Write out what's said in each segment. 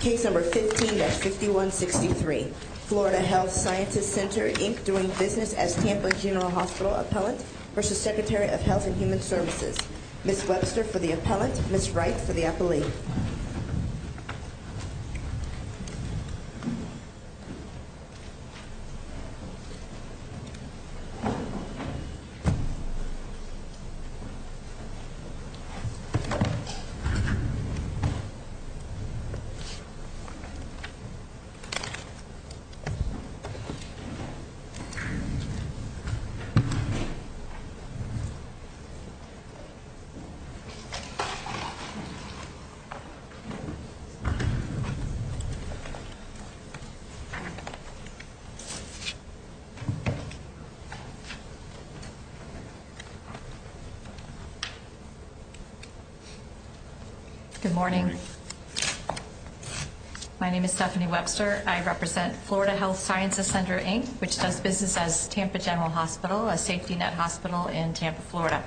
Case number 15-5163, Florida Health Sciences Center, Inc., doing business as Tampa General Hospital Appellant v. Secretary of Health and Human Services. Ms. Webster for the Appellant, Ms. Wright for the Appellee. Ms. Webster. My name is Stephanie Webster. I represent Florida Health Sciences Center, Inc., which does business as Tampa General Hospital, a safety net hospital in Tampa, Florida.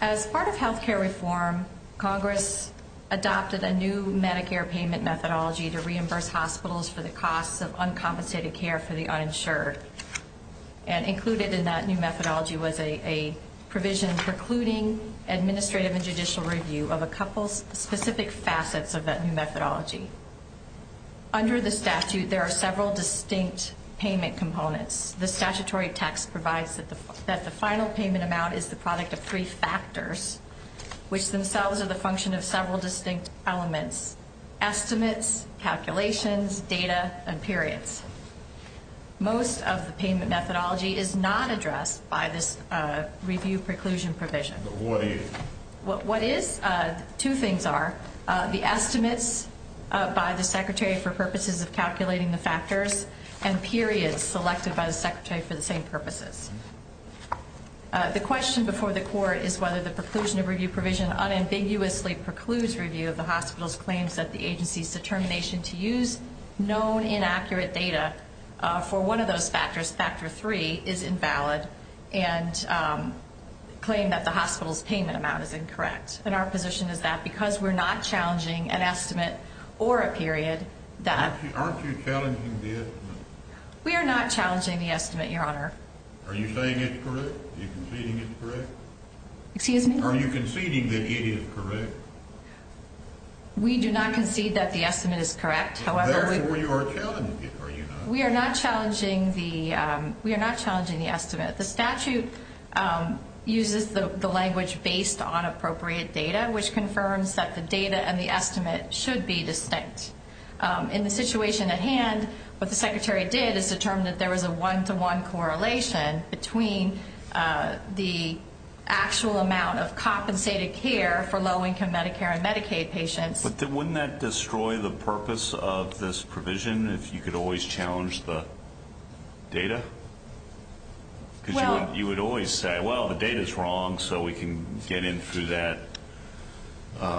As part of health care reform, Congress adopted a new Medicare payment methodology to reimburse hospitals for the costs of uncompensated care for the uninsured. And included in that new methodology was a provision precluding administrative and judicial review of a couple specific facets of that new methodology. Under the statute, there are several distinct payment components. The statutory text provides that the final payment amount is the product of three factors, which themselves are the function of several distinct elements, estimates, calculations, data, and periods. Most of the payment methodology is not addressed by this review preclusion provision. What is? Two things are the estimates by the Secretary for purposes of calculating the factors and periods selected by the Secretary for the same purposes. The question before the court is whether the preclusion of review provision unambiguously precludes review of the hospital's claims that the agency's determination to use known inaccurate data for one of those factors, factor three, is invalid and claim that the hospital's payment amount is incorrect. And our position is that because we're not challenging an estimate or a period, that... Aren't you challenging the estimate? We are not challenging the estimate, Your Honor. Are you saying it's correct? Are you conceding it's correct? Excuse me? Are you conceding that it is correct? We do not concede that the estimate is correct, however... Therefore, you are challenging it, are you not? We are not challenging the estimate. The statute uses the language based on appropriate data, which confirms that the data and the estimate should be distinct. In the situation at hand, what the Secretary did is determine that there was a one-to-one correlation between the actual amount of compensated care for low-income Medicare and Medicaid patients... But wouldn't that destroy the purpose of this provision if you could always challenge the data? Because you would always say, well, the data's wrong, so we can get in through that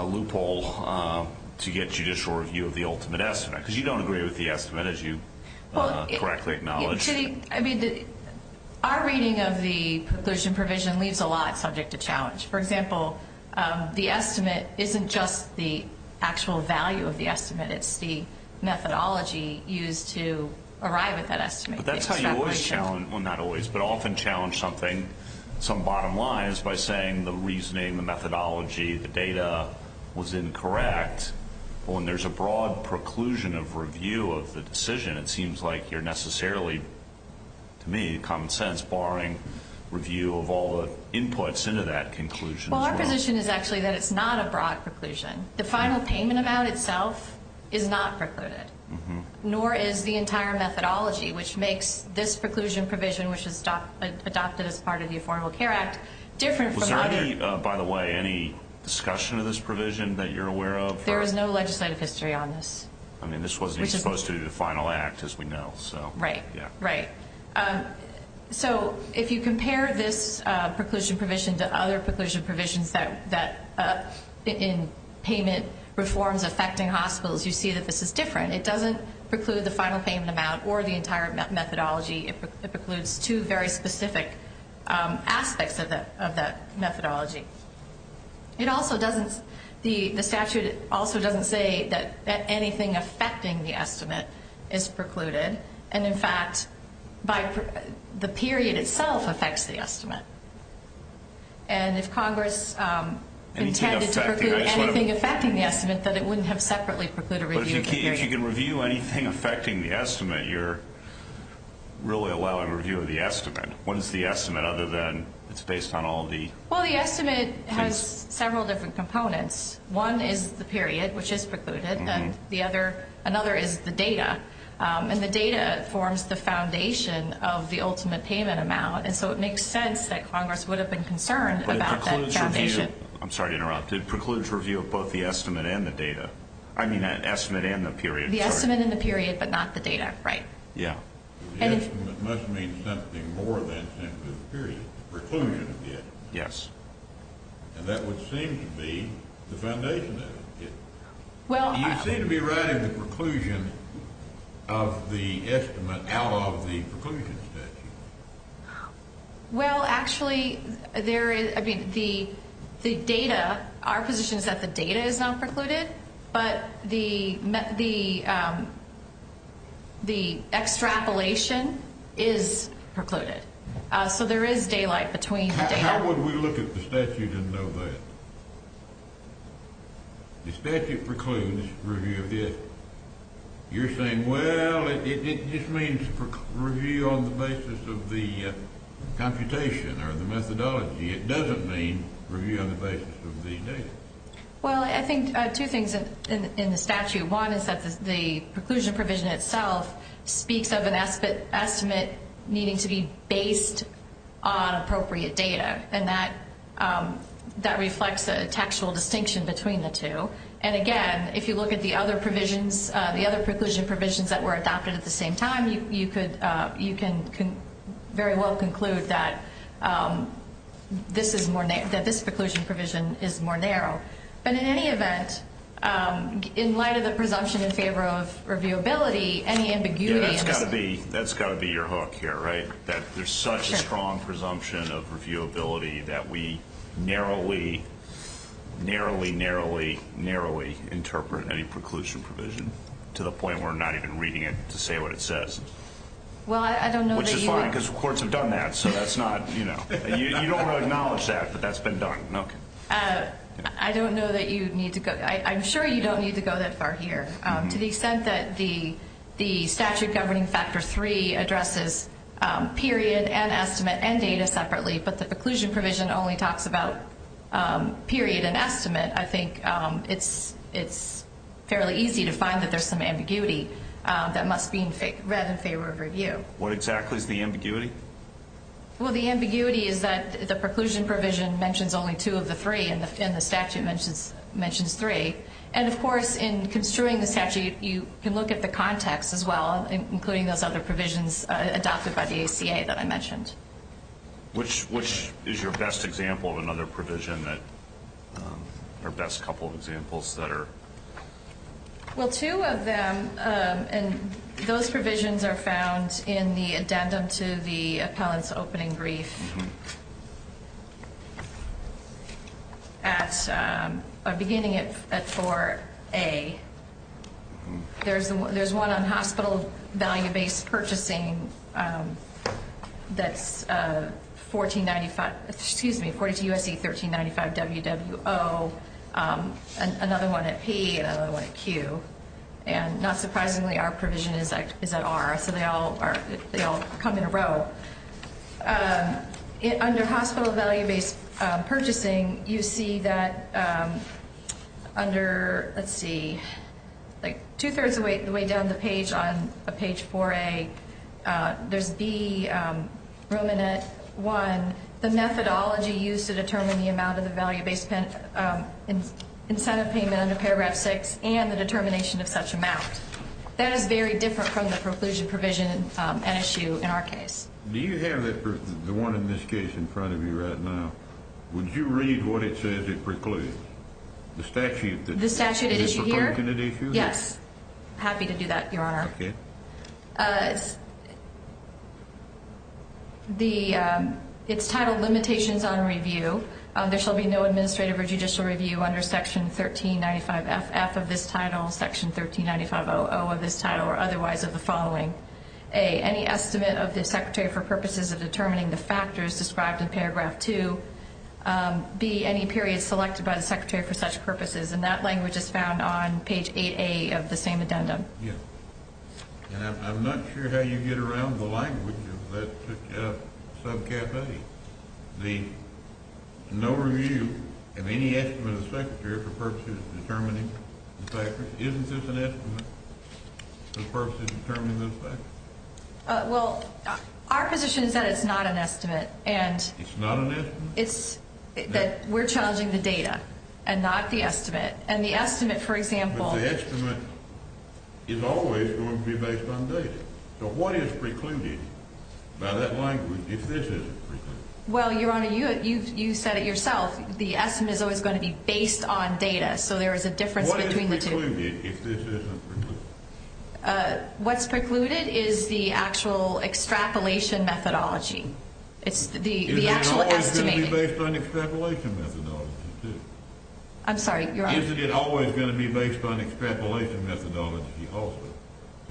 loophole to get judicial review of the ultimate estimate. Because you don't agree with the estimate, as you correctly acknowledged. I mean, our reading of the provision leaves a lot subject to challenge. For example, the estimate isn't just the actual value of the estimate. It's the methodology used to arrive at that estimate. But that's how you always challenge, well, not always, but often challenge some bottom lines by saying the reasoning, the methodology, the data was incorrect. When there's a broad preclusion of review of the decision, it seems like you're necessarily, to me, common sense, barring review of all the inputs into that conclusion. Well, our position is actually that it's not a broad preclusion. The final payment amount itself is not precluded. Nor is the entire methodology, which makes this preclusion provision, which is adopted as part of the Affordable Care Act, different from other... Was there any, by the way, any discussion of this provision that you're aware of? There is no legislative history on this. I mean, this wasn't even supposed to be the final act, as we know. Right, right. So if you compare this preclusion provision to other preclusion provisions in payment reforms affecting hospitals, you see that this is different. It doesn't preclude the final payment amount or the entire methodology. It precludes two very specific aspects of that methodology. It also doesn't, the statute also doesn't say that anything affecting the estimate is precluded. And, in fact, the period itself affects the estimate. And if Congress intended to preclude anything affecting the estimate, then it wouldn't have separately precluded a review of the period. But if you can review anything affecting the estimate, you're really allowing review of the estimate. What is the estimate other than it's based on all the... Well, the estimate has several different components. One is the period, which is precluded, and another is the data. And the data forms the foundation of the ultimate payment amount. And so it makes sense that Congress would have been concerned about that foundation. But it precludes review. I'm sorry to interrupt. It precludes review of both the estimate and the data. I mean, the estimate and the period, sorry. The estimate and the period, but not the data, right. Yeah. The estimate must mean something more than simply the period, the preclusion of the estimate. Yes. And that would seem to be the foundation of it. You seem to be writing the preclusion of the estimate out of the preclusion statute. Well, actually, the data, our position is that the data is not precluded, but the extrapolation is precluded. So there is daylight between the data. Why would we look at the statute and know that? The statute precludes review of this. You're saying, well, it just means review on the basis of the computation or the methodology. It doesn't mean review on the basis of the data. Well, I think two things in the statute. One is that the preclusion provision itself speaks of an estimate needing to be based on appropriate data, and that reflects a textual distinction between the two. And, again, if you look at the other preclusion provisions that were adopted at the same time, you can very well conclude that this preclusion provision is more narrow. But in any event, in light of the presumption in favor of reviewability, any ambiguity. Yeah, that's got to be your hook here, right, that there's such a strong presumption of reviewability that we narrowly, narrowly, narrowly, narrowly interpret any preclusion provision to the point where we're not even reading it to say what it says. Well, I don't know that you would. Which is fine because courts have done that, so that's not, you know. You don't want to acknowledge that, but that's been done. I don't know that you need to go. I'm sure you don't need to go that far here. To the extent that the statute governing Factor 3 addresses period and estimate and data separately, but the preclusion provision only talks about period and estimate, I think it's fairly easy to find that there's some ambiguity that must be read in favor of review. What exactly is the ambiguity? Well, the ambiguity is that the preclusion provision mentions only two of the three and the statute mentions three. And, of course, in construing the statute, you can look at the context as well, including those other provisions adopted by the ACA that I mentioned. Which is your best example of another provision, or best couple of examples that are? Well, two of them, and those provisions are found in the addendum to the appellant's opening brief. At beginning at 4A, there's one on hospital value-based purchasing that's 1495, excuse me, according to U.S.C. 1395, W.W.O., another one at P, another one at Q. And not surprisingly, our provision is at R, so they all come in a row. Under hospital value-based purchasing, you see that under, let's see, like two-thirds of the way down the page on page 4A, there's B, Romanet 1. The methodology used to determine the amount of the value-based incentive payment under Paragraph 6 and the determination of such amount. That is very different from the preclusion provision at issue in our case. Do you have the one in this case in front of you right now? Would you read what it says it precludes? The statute? The statute at issue here? The preclusion at issue here? Yes. Happy to do that, Your Honor. Okay. It's titled Limitations on Review. There shall be no administrative or judicial review under Section 1395F of this title, Section 139500 of this title, or otherwise of the following. A, any estimate of the Secretary for purposes of determining the factors described in Paragraph 2. B, any period selected by the Secretary for such purposes. And that language is found on page 8A of the same addendum. Yes. And I'm not sure how you get around the language of that subcap A. The no review of any estimate of the Secretary for purposes of determining the factors. Isn't this an estimate for purposes of determining those factors? Well, our position is that it's not an estimate. It's not an estimate? We're challenging the data and not the estimate. And the estimate, for example. But the estimate is always going to be based on data. So what is precluded by that language if this isn't precluded? Well, Your Honor, you said it yourself. The estimate is always going to be based on data. So there is a difference between the two. What is precluded if this isn't precluded? What's precluded is the actual extrapolation methodology. It's the actual estimating. Isn't it always going to be based on extrapolation methodology too? I'm sorry, Your Honor. Isn't it always going to be based on extrapolation methodology also?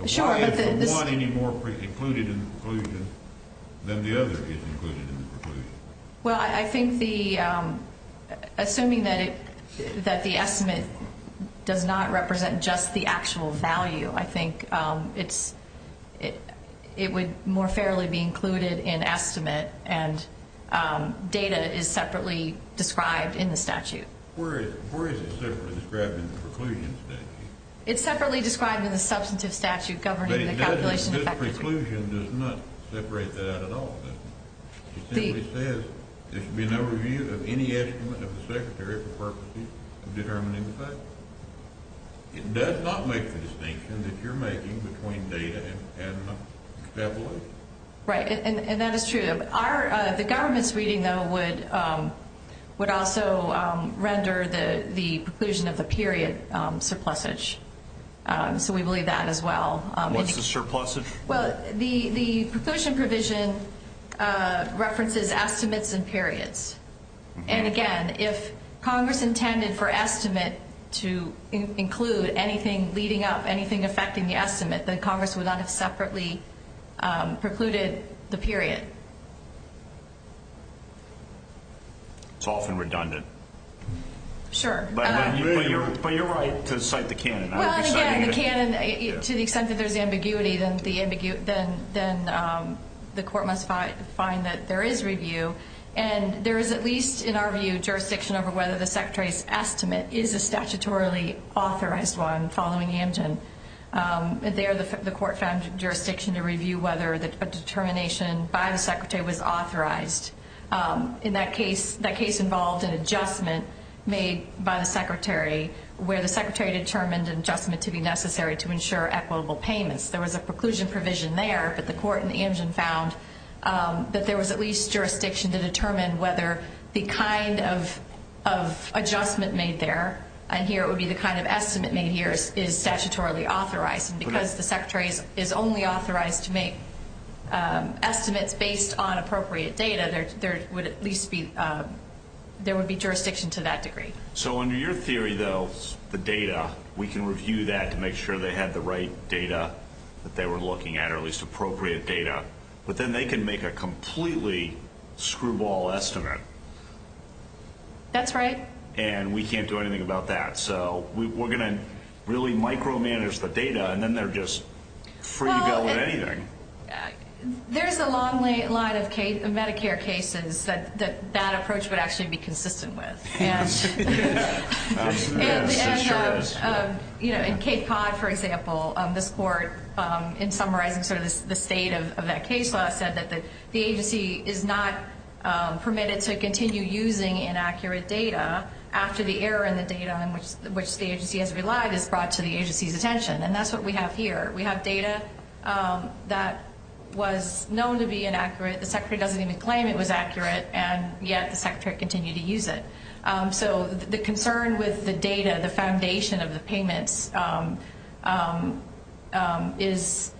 Sure. Why is the one any more precluded in the preclusion than the other is included in the preclusion? Well, I think the ‑‑ assuming that the estimate does not represent just the actual value, I think it would more fairly be included in estimate and data is separately described in the statute. Where is it separately described in the preclusion statute? It's separately described in the substantive statute governing the calculations. But this preclusion does not separate that at all. It simply says there should be no review of any estimate of the secretary for purposes of determining the facts. It does not make the distinction that you're making between data and extrapolation. Right. And that is true. The government's reading, though, would also render the preclusion of the period surplusage. So we believe that as well. What's the surplusage? Well, the preclusion provision references estimates and periods. And, again, if Congress intended for estimate to include anything leading up, anything affecting the estimate, then Congress would not have separately precluded the period. It's often redundant. Sure. But you're right to cite the canon. Well, again, the canon, to the extent that there's ambiguity, then the court must find that there is review and there is at least, in our view, jurisdiction over whether the secretary's estimate is a statutorily authorized one following Amgen. There the court found jurisdiction to review whether a determination by the secretary was authorized. In that case, that case involved an adjustment made by the secretary where the secretary determined an adjustment to be necessary to ensure equitable payments. There was a preclusion provision there, but the court in Amgen found that there was at least jurisdiction to determine whether the kind of adjustment made there, and here it would be the kind of estimate made here, is statutorily authorized. And because the secretary is only authorized to make estimates based on appropriate data, there would be jurisdiction to that degree. So under your theory, though, the data, we can review that to make sure they had the right data that they were looking at or at least appropriate data, but then they can make a completely screwball estimate. That's right. And we can't do anything about that. So we're going to really micromanage the data, and then they're just free to go with anything. There's a long line of Medicare cases that that approach would actually be consistent with. Yes, it sure is. In Cape Cod, for example, this court, in summarizing sort of the state of that case law, said that the agency is not permitted to continue using inaccurate data after the error in the data in which the agency has relied is brought to the agency's attention. And that's what we have here. We have data that was known to be inaccurate. The secretary doesn't even claim it was accurate, and yet the secretary continued to use it. So the concern with the data, the foundation of the payments, is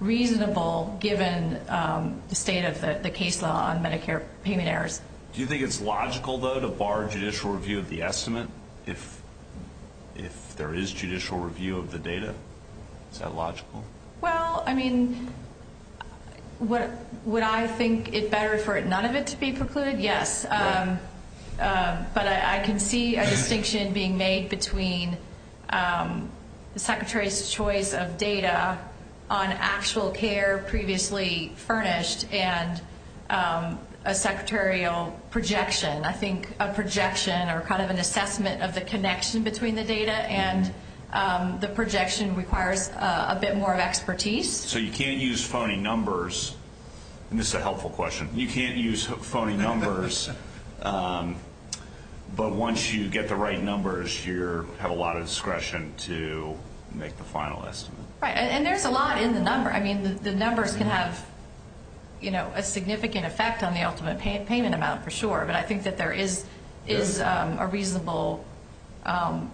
reasonable given the state of the case law on Medicare payment errors. Do you think it's logical, though, to bar judicial review of the estimate if there is judicial review of the data? Is that logical? Well, I mean, would I think it better for none of it to be precluded? Yes. But I can see a distinction being made between the secretary's choice of data on actual care previously furnished and a secretarial projection. I think a projection or kind of an assessment of the connection between the data and the projection requires a bit more of expertise. So you can't use phony numbers. And this is a helpful question. You can't use phony numbers. But once you get the right numbers, you have a lot of discretion to make the final estimate. Right. And there's a lot in the number. I mean, the numbers can have a significant effect on the ultimate payment amount for sure. But I think that there is a reasonable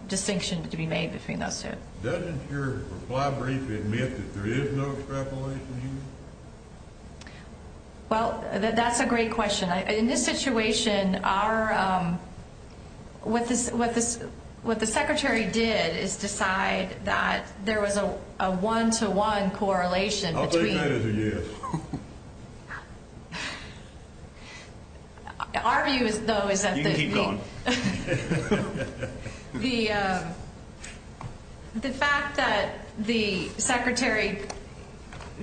distinction to be made between those two. Doesn't your reply brief admit that there is no extrapolation here? Well, that's a great question. In this situation, what the secretary did is decide that there was a one-to-one correlation between. I'll take that as a yes. Our view, though, is that the... You can keep going. The fact that the secretary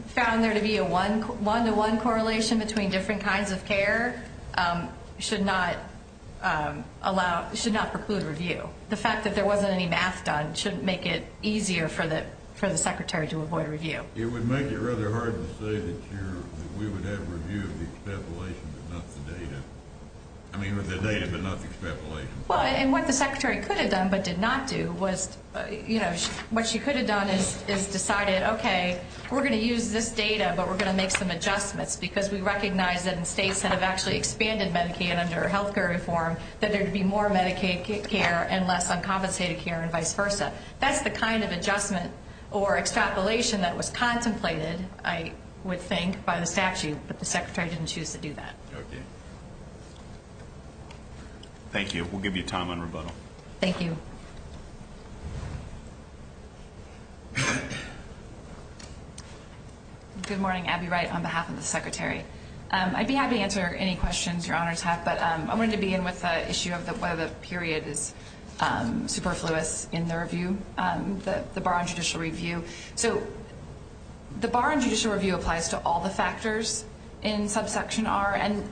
found there to be a one-to-one correlation between different kinds of care should not preclude review. The fact that there wasn't any math done shouldn't make it easier for the secretary to avoid review. It would make it rather hard to say that we would have review of the extrapolation but not the data. I mean, the data but not the extrapolation. Well, and what the secretary could have done but did not do was, you know, what she could have done is decided, okay, we're going to use this data, but we're going to make some adjustments because we recognize that in states that have actually expanded Medicaid under health care reform, that there would be more Medicaid care and less uncompensated care and vice versa. That's the kind of adjustment or extrapolation that was contemplated, I would think, by the statute. But the secretary didn't choose to do that. Okay. Thank you. We'll give you time on rebuttal. Thank you. Good morning. Abby Wright on behalf of the secretary. I'd be happy to answer any questions your honors have, but I wanted to begin with the issue of whether the period is superfluous in the review, the bar on judicial review. So the bar on judicial review applies to all the factors in subsection R, and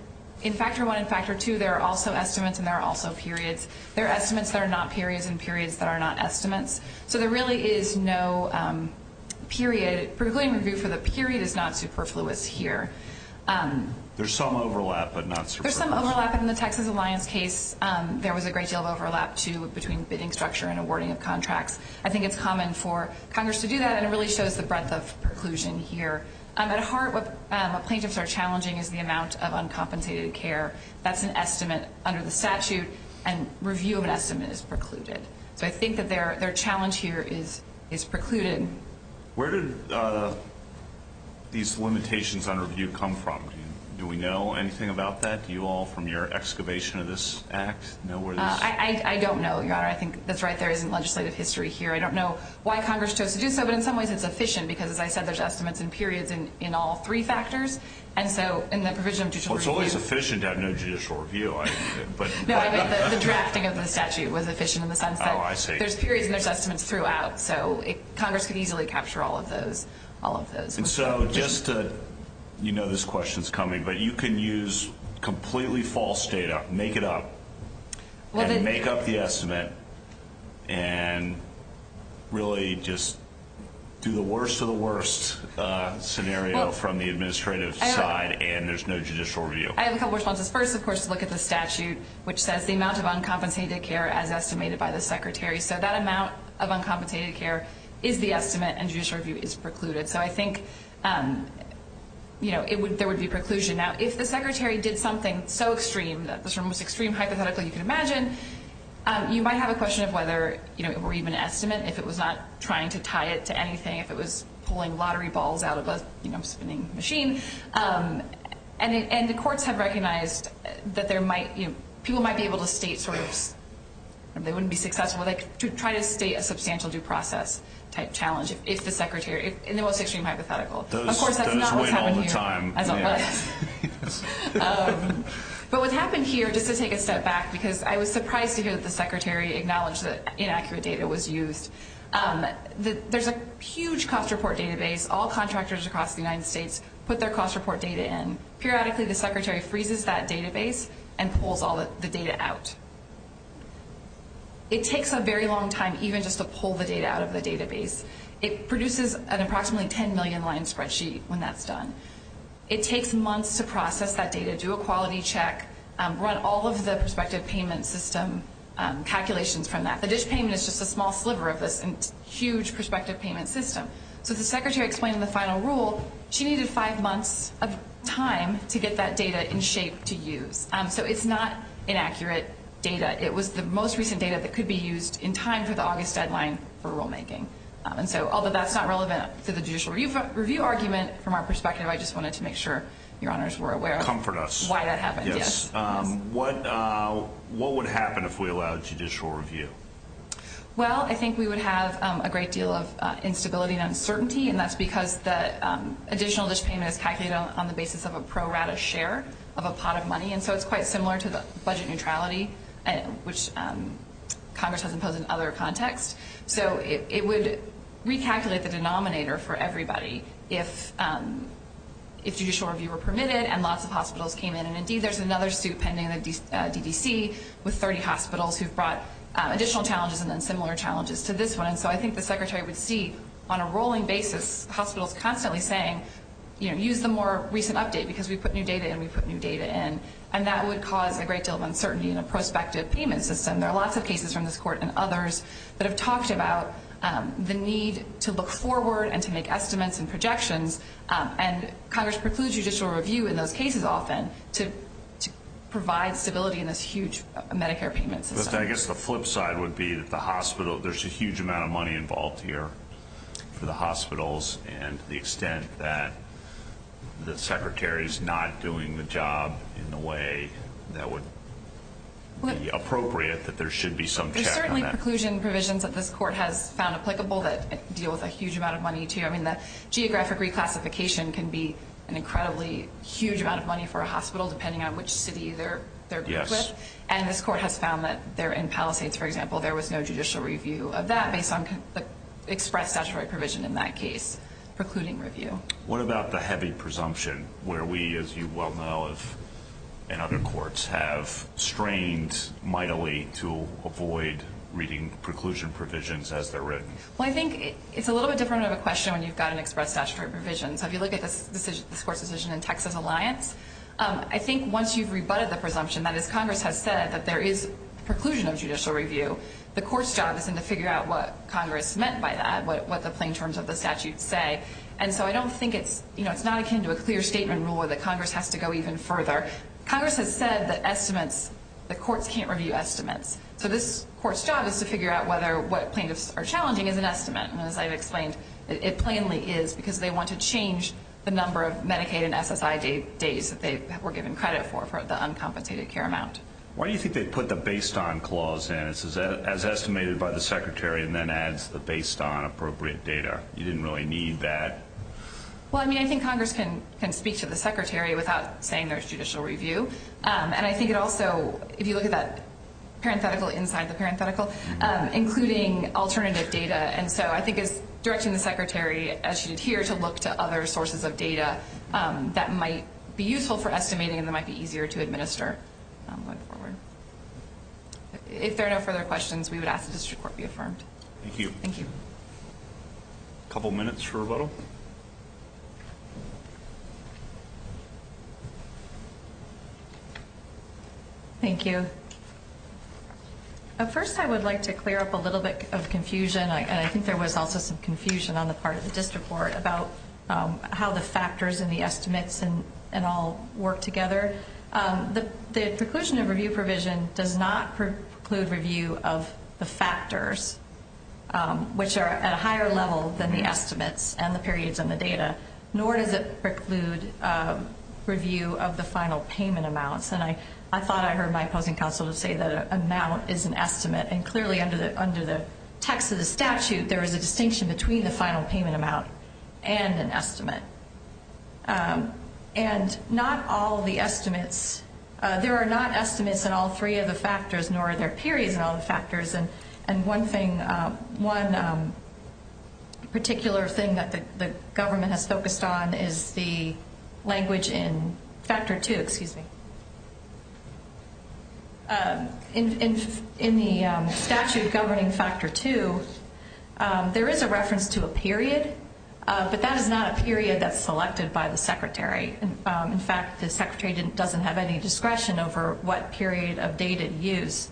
in Factor I and Factor II, there are also estimates and there are also periods. There are estimates that are not periods and periods that are not estimates. So there really is no period, particularly in review, for the period is not superfluous here. There's some overlap but not superfluous. There's some overlap in the Texas Alliance case. There was a great deal of overlap, too, between bidding structure and awarding of contracts. I think it's common for Congress to do that, and it really shows the breadth of preclusion here. At heart, what plaintiffs are challenging is the amount of uncompensated care. That's an estimate under the statute, and review of an estimate is precluded. So I think that their challenge here is precluded. Where did these limitations on review come from? Do we know anything about that? Do you all, from your excavation of this act, know where this is? I don't know, your honor. I think that's right there isn't legislative history here. I don't know why Congress chose to do so, but in some ways it's efficient because, as I said, there's estimates and periods in all three factors, and so in the provision of judicial review. Well, it's always efficient to have no judicial review. No, I mean the drafting of the statute was efficient in the sense that there's periods and there's estimates throughout, so Congress could easily capture all of those. And so just to, you know this question's coming, but you can use completely false data, make it up, and make up the estimate and really just do the worst of the worst scenario from the administrative side and there's no judicial review. I have a couple of responses. First, of course, is to look at the statute, which says the amount of uncompensated care as estimated by the secretary. So that amount of uncompensated care is the estimate and judicial review is precluded. So I think, you know, there would be preclusion. Now, if the secretary did something so extreme, the most extreme hypothetical you can imagine, you might have a question of whether it were even an estimate, if it was not trying to tie it to anything, if it was pulling lottery balls out of a spinning machine. And the courts have recognized that people might be able to state sort of, they wouldn't be successful to try to state a substantial due process type challenge if the secretary, in the most extreme hypothetical. Of course, that's not what's happening here. But what's happening here, just to take a step back, because I was surprised to hear that the secretary acknowledged that inaccurate data was used. There's a huge cost report database. All contractors across the United States put their cost report data in. Periodically, the secretary freezes that database and pulls all the data out. It takes a very long time even just to pull the data out of the database. It produces an approximately 10 million line spreadsheet when that's done. It takes months to process that data, do a quality check, run all of the prospective payment system calculations from that. The dish payment is just a small sliver of this huge prospective payment system. So the secretary explained in the final rule, she needed five months of time to get that data in shape to use. So it's not inaccurate data. It was the most recent data that could be used in time for the August deadline for rulemaking. Although that's not relevant to the judicial review argument, from our perspective, I just wanted to make sure your honors were aware of why that happened. Comfort us. Yes. What would happen if we allowed judicial review? Well, I think we would have a great deal of instability and uncertainty, and that's because the additional dish payment is calculated on the basis of a pro rata share of a pot of money. And so it's quite similar to the budget neutrality, which Congress has imposed in other contexts. So it would recalculate the denominator for everybody if judicial review were permitted and lots of hospitals came in. And, indeed, there's another suit pending in the DDC with 30 hospitals who have brought additional challenges and then similar challenges to this one. And so I think the secretary would see on a rolling basis hospitals constantly saying, you know, we put new data in, we put new data in, and that would cause a great deal of uncertainty in a prospective payment system. There are lots of cases from this court and others that have talked about the need to look forward and to make estimates and projections, and Congress precludes judicial review in those cases often to provide stability in this huge Medicare payment system. But I guess the flip side would be that the hospital, there's a huge amount of money involved here for the hospitals and the extent that the secretary's not doing the job in the way that would be appropriate, that there should be some check on that. There's certainly preclusion provisions that this court has found applicable that deal with a huge amount of money, too. I mean, the geographic reclassification can be an incredibly huge amount of money for a hospital, depending on which city they're grouped with. Yes. And this court has found that in Palisades, for example, there was no judicial review of that based on the express statutory provision in that case, precluding review. What about the heavy presumption where we, as you well know, and other courts, have strained mightily to avoid reading preclusion provisions as they're written? Well, I think it's a little bit different of a question when you've got an express statutory provision. So if you look at this court's decision in Texas Alliance, I think once you've rebutted the presumption, that is, Congress has said that there is preclusion of judicial review, the court's job is then to figure out what Congress meant by that, what the plain terms of the statute say. And so I don't think it's, you know, it's not akin to a clear statement rule that Congress has to go even further. Congress has said that estimates, that courts can't review estimates. So this court's job is to figure out whether what plaintiffs are challenging is an estimate. And as I've explained, it plainly is because they want to change the number of Medicaid and SSI days that they were given credit for for the uncompensated care amount. Why do you think they put the based on clause in as estimated by the secretary and then adds the based on appropriate data? You didn't really need that. Well, I mean, I think Congress can speak to the secretary without saying there's judicial review. And I think it also, if you look at that parenthetical inside the parenthetical, including alternative data. And so I think it's directing the secretary, as she did here, to look to other sources of data that might be useful for estimating and that might be easier to administer going forward. If there are no further questions, we would ask the district court be affirmed. Thank you. A couple minutes for rebuttal. Thank you. First, I would like to clear up a little bit of confusion. And I think there was also some confusion on the part of the district court about how the factors and the estimates and all work together. The preclusion of review provision does not preclude review of the factors, which are at a higher level than the estimates and the periods and the data, nor does it preclude review of the final payment amounts. And I thought I heard my opposing counsel say that an amount is an estimate. And clearly under the text of the statute, there is a distinction between the final payment amount and an estimate. And not all of the estimates, there are not estimates in all three of the factors, nor are there periods in all the factors. And one thing, one particular thing that the government has focused on is the language in factor two. Excuse me. In the statute governing factor two, there is a reference to a period, but that is not a period that's selected by the secretary. In fact, the secretary doesn't have any discretion over what period of data to use.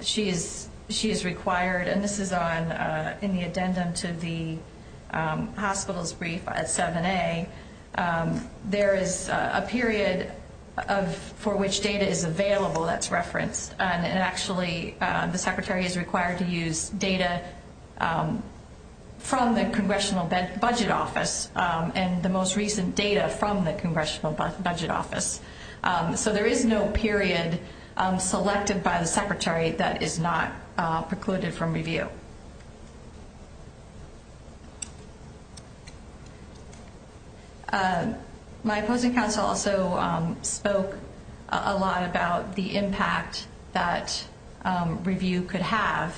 She is required, and this is in the addendum to the hospital's brief at 7A, there is a period for which data is available that's referenced. And actually, the secretary is required to use data from the Congressional Budget Office. And the most recent data from the Congressional Budget Office. So there is no period selected by the secretary that is not precluded from review. My opposing counsel also spoke a lot about the impact that review could have,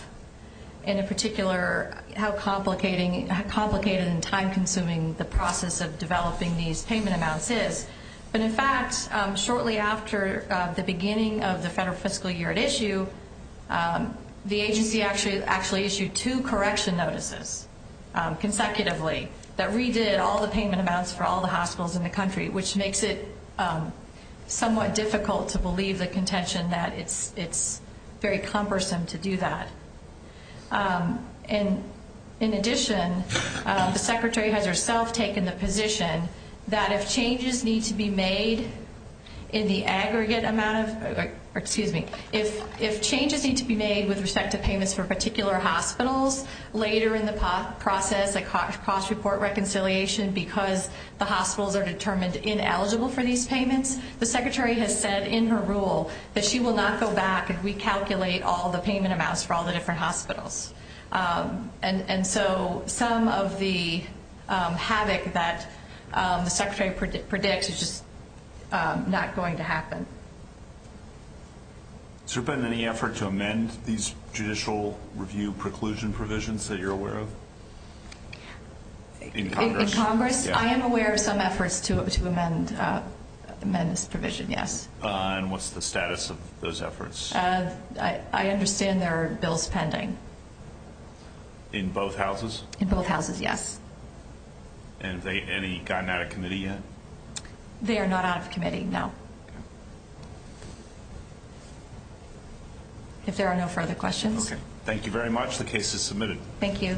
and in particular, how complicated and time-consuming the process of developing these payment amounts is. But in fact, shortly after the beginning of the federal fiscal year at issue, the agency actually issued two correction notices consecutively that redid all the payment amounts for all the hospitals in the country, which makes it somewhat difficult to believe the contention that it's very cumbersome to do that. And in addition, the secretary has herself taken the position that if changes need to be made in the aggregate amount of, excuse me, if changes need to be made with respect to payments for particular hospitals, later in the process, a cost report reconciliation, because the hospitals are determined ineligible for these payments, the secretary has said in her rule that she will not go back and recalculate all the payment amounts for all the different hospitals. And so some of the havoc that the secretary predicts is just not going to happen. Has there been any effort to amend these judicial review preclusion provisions that you're aware of? In Congress? In Congress, I am aware of some efforts to amend this provision, yes. And what's the status of those efforts? I understand there are bills pending. In both houses? In both houses, yes. And have they gotten out of committee yet? They are not out of committee, no. If there are no further questions. Okay, thank you very much. The case is submitted. Thank you.